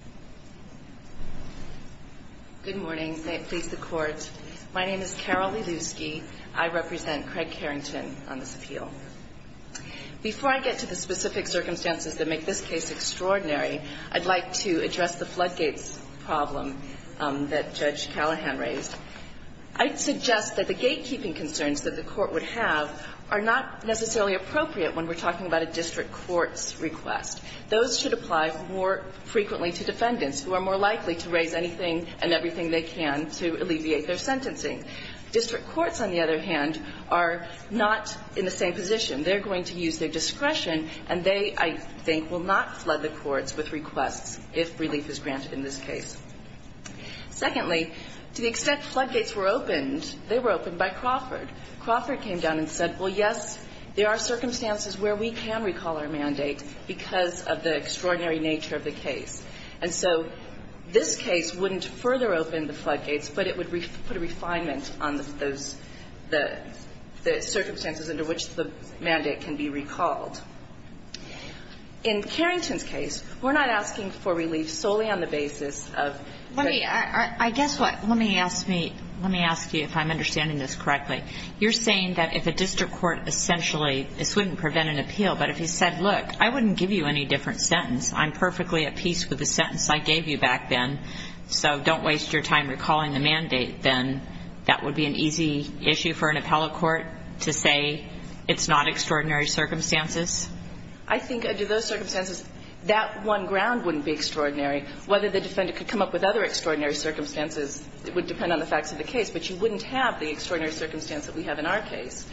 Insider Review May it please the Court, my name is Carol Lielewski, I represent Craig Carrington on this appeal. Before I get to the specific circumstances that make this case extraordinary I'd like to address the floodgates problem that Judge Callahan raised. I'd suggest that the gatekeeping concerns that the Court would have are not necessarily appropriate when we're talking about a District Court's request. Those should apply more frequently to defendants who are more likely to raise anything and everything they can to alleviate their sentencing. District courts, on the other hand, are not in the same position. They're going to use their discretion and they, I think, will not flood the courts with requests if relief is granted in this case. Secondly, to the extent floodgates were opened, they were opened by Crawford. Crawford came down and said, well, yes, there are circumstances where we can recall our mandate because of the extraordinary nature of the case. And so this case wouldn't further open the floodgates, but it would put a refinement on those, the circumstances under which the mandate can be recalled. In Carrington's case, we're not asking for relief solely on the basis of the ---- Let me, I guess what, let me ask me, let me ask you if I'm understanding this correctly. You're saying that if a District Court essentially, this wouldn't prevent an appeal, but if he said, look, I wouldn't give you any different sentence, I'm perfectly at peace with the sentence I gave you back then, so don't waste your time recalling the mandate, then that would be an easy issue for an appellate court to say it's not extraordinary circumstances? I think under those circumstances, that one ground wouldn't be extraordinary. Whether the defendant could come up with other extraordinary circumstances would depend on the facts of the case, but you wouldn't have the extraordinary circumstance that we have in our case.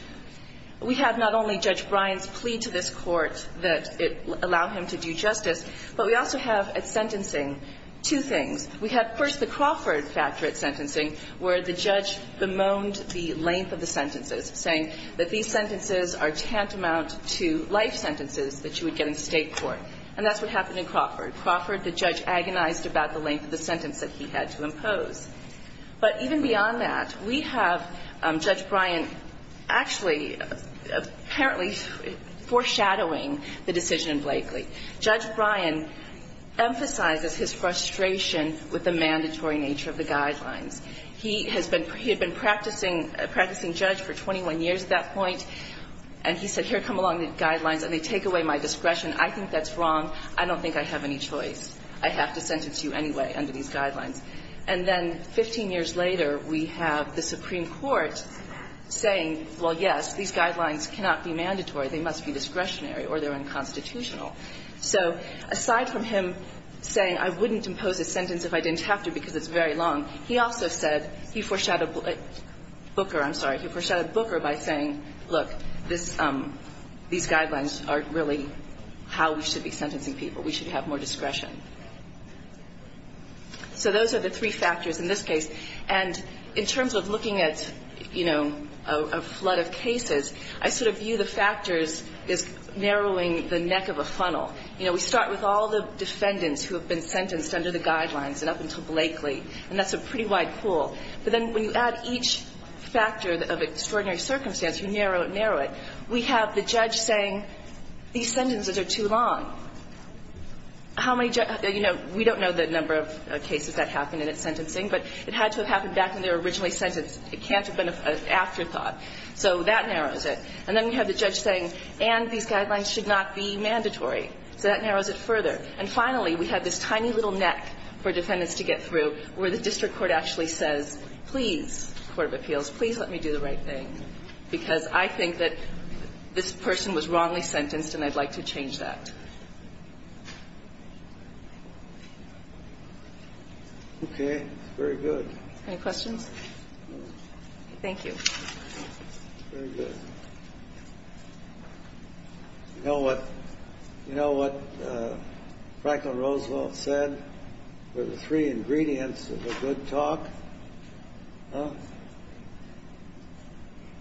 We have not only Judge Bryant's plea to this Court that it allow him to do justice, but we also have at sentencing two things. We have, first, the Crawford factor at sentencing, where the judge bemoaned the length of the sentences, saying that these sentences are tantamount to life sentences that you would get in State court, and that's what happened in Crawford. Crawford, the judge, agonized about the length of the sentence that he had to impose. But even beyond that, we have Judge Bryant actually, apparently foreshadowing the decision in Blakely. Judge Bryant emphasizes his frustration with the mandatory nature of the guidelines. He has been – he had been practicing – practicing judge for 21 years at that point, and he said, here come along the guidelines, and they take away my discretion. I think that's wrong. I don't think I have any choice. I have to sentence you anyway under these guidelines. And then 15 years later, we have the Supreme Court saying, well, yes, these guidelines cannot be mandatory. They must be discretionary or they're unconstitutional. So aside from him saying, I wouldn't impose a sentence if I didn't have to because it's very long, he also said – he foreshadowed Booker, I'm sorry. He foreshadowed Booker by saying, look, this – these guidelines are really how we should be sentencing people. We should have more discretion. So those are the three factors in this case. And in terms of looking at, you know, a flood of cases, I sort of view the factors as narrowing the neck of a funnel. You know, we start with all the defendants who have been sentenced under the guidelines and up until Blakely, and that's a pretty wide pool. But then when you add each factor of extraordinary circumstance, you narrow it and narrow it, we have the judge saying, these sentences are too long. How many – you know, we don't know the number of cases that happened in its sentencing, but it had to have happened back when they were originally sentenced. It can't have been an afterthought. So that narrows it. And then we have the judge saying, and these guidelines should not be mandatory. So that narrows it further. And finally, we have this tiny little neck for defendants to get through where the district court actually says, please, court of appeals, please let me do the right thing, because I think that this person was wrongly sentenced and I'd like to change that. Okay, very good. Any questions? Thank you. Very good. You know what Franklin Roosevelt said were the three ingredients of a good talk?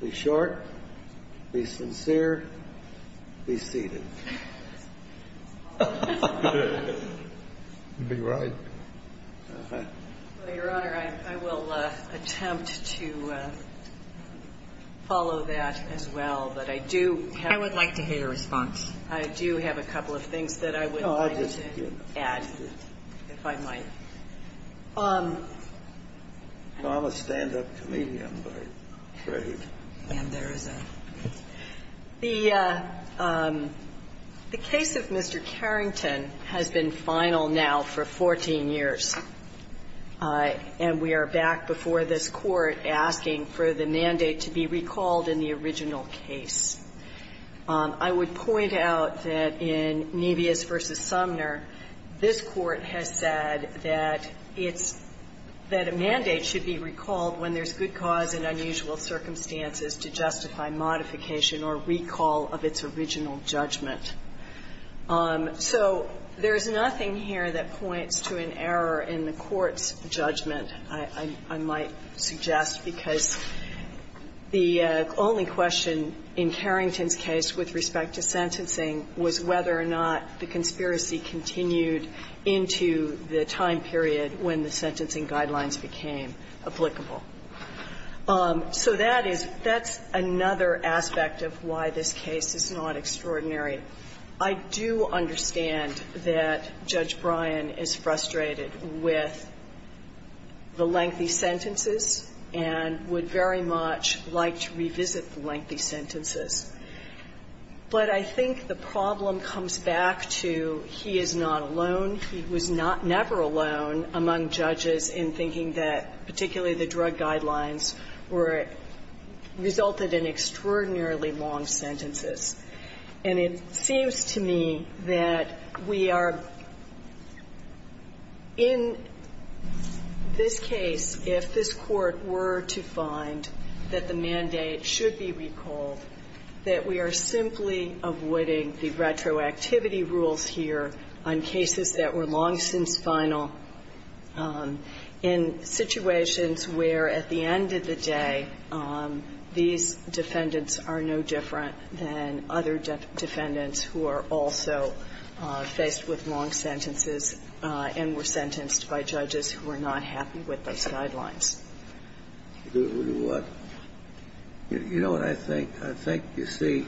Be short, be sincere, be seated. You'd be right. Well, Your Honor, I will attempt to follow that as well, but I do have – I would like to hear your response. I do have a couple of things that I would like to add, if I might. I'm a stand-up comedian, I'm afraid. And there is a – the case of Mr. Carrington has been final now for 14 years, and we are back before this Court asking for the mandate to be recalled in the original case. I would point out that in Nebius v. Sumner, this Court has said that it's – that a mandate should be recalled when there's good cause in unusual circumstances to justify modification or recall of its original judgment. So there is nothing here that points to an error in the Court's judgment, I might suggest, because the only question in Carrington's case with respect to sentencing was whether or not the conspiracy continued into the time period when the sentencing guidelines became applicable. So that is – that's another aspect of why this case is not extraordinary. I do understand that Judge Bryan is frustrated with the lengthy sentences and would very much like to revisit the lengthy sentences. But I think the problem comes back to he is not alone. He was not – never alone among judges in thinking that particularly the drug guidelines were – resulted in extraordinarily long sentences. And it seems to me that we are – in this case, if this Court were to find that the mandate should be recalled, that we are simply avoiding the retroactivity rules here on cases that were long since final in situations where at the end of the day, these defendants are no different than other defendants who are also faced with long sentences and were sentenced by judges who are not happy with those guidelines. You know what I think? I think, you see,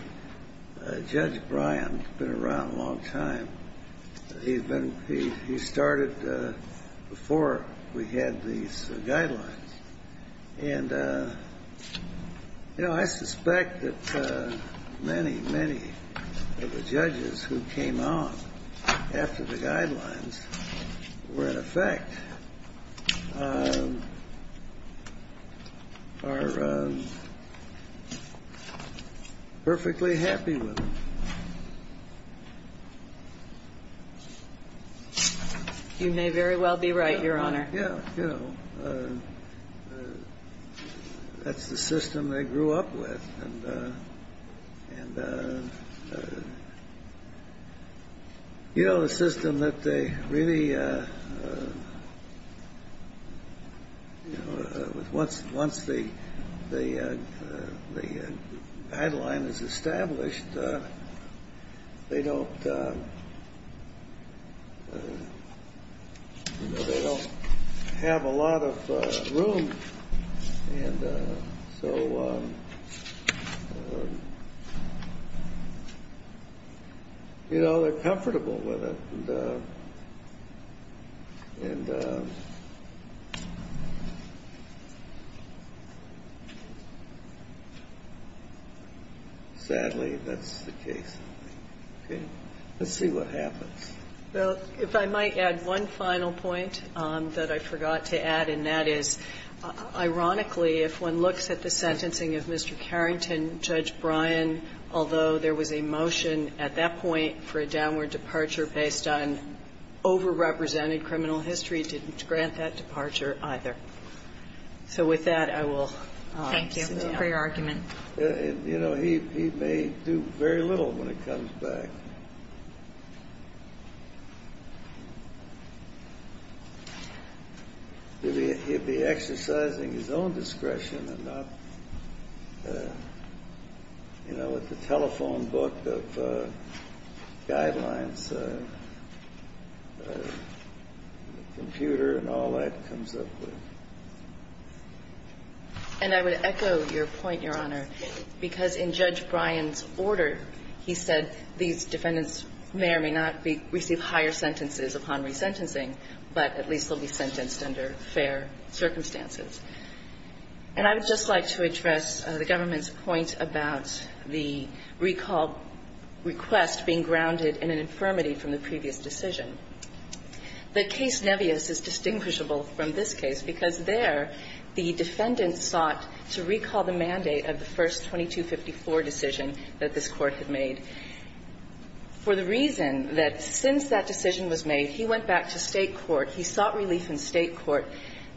Judge Bryan has been around a long time. He's been – he started before we had these guidelines. And, you know, I suspect that many, many of the judges who came on after the guidelines were in effect are perfectly happy with them. You may very well be right, Your Honor. Yeah. You know, that's the system they grew up with. And, you know, the system that they really – once the guideline is established, they don't – you know, they don't have a lot of room. And so, you know, they're comfortable with it. And sadly, that's the case. Okay? Let's see what happens. Well, if I might add one final point that I forgot to add, and that is, ironically, if one looks at the sentencing of Mr. Carrington, Judge Bryan, although there was a motion at that point for a downward departure based on overrepresented criminal history, didn't grant that departure either. So with that, I will sit down. Thank you for your argument. You know, he may do very little when it comes back. He'll be exercising his own discretion and not – you know, with the telephone book of guidelines, the computer and all that comes up with. And I would echo your point, Your Honor, because in Judge Bryan's order, he said these defendants may or may not receive higher sentences upon resentencing, but at least they'll be sentenced under fair circumstances. And I would just like to address the government's point about the recall request being grounded in an infirmity from the previous decision. The case Nebios is distinguishable from this case because there, the defendant sought to recall the mandate of the first 2254 decision that this Court had made for the reason that since that decision was made, he went back to State court. He sought relief in State court.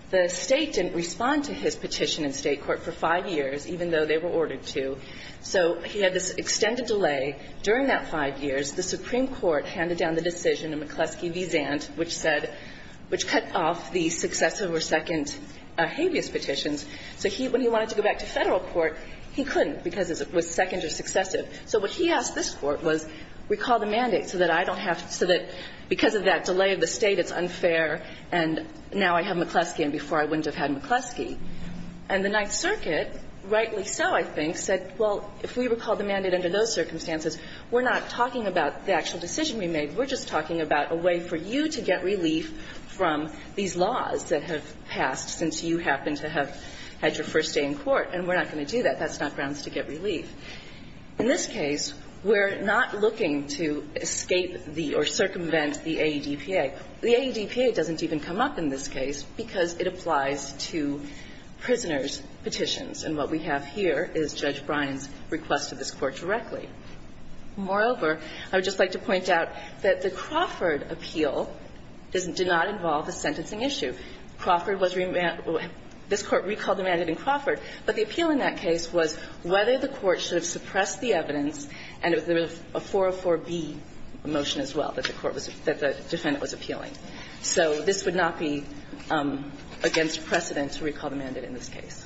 The State didn't respond to his petition in State court for five years, even though they were ordered to. So he had this extended delay. During that five years, the Supreme Court handed down the decision in McCleskey v. Zant, which said – which cut off the successive or second habeas petitions. So he – when he wanted to go back to Federal court, he couldn't because it was second or successive. So what he asked this Court was, recall the mandate so that I don't have – so that because of that delay of the State, it's unfair, and now I have McCleskey and before I wouldn't have had McCleskey. And the Ninth Circuit, rightly so, I think, said, well, if we recall the mandate under those circumstances, we're not talking about the actual decision we made. We're just talking about a way for you to get relief from these laws that have passed since you happen to have had your first day in court, and we're not going to do that. That's not grounds to get relief. In this case, we're not looking to escape the or circumvent the AEDPA. The AEDPA doesn't even come up in this case because it applies to prisoners' petitions, and what we have here is Judge Bryan's request to this Court directly. Moreover, I would just like to point out that the Crawford appeal did not involve a sentencing issue. Crawford was – this Court recalled the mandate in Crawford, but the appeal in that case was whether the Court should have suppressed the evidence, and there was a 404b motion as well that the defendant was appealing. So this would not be against precedent to recall the mandate in this case. Thank you.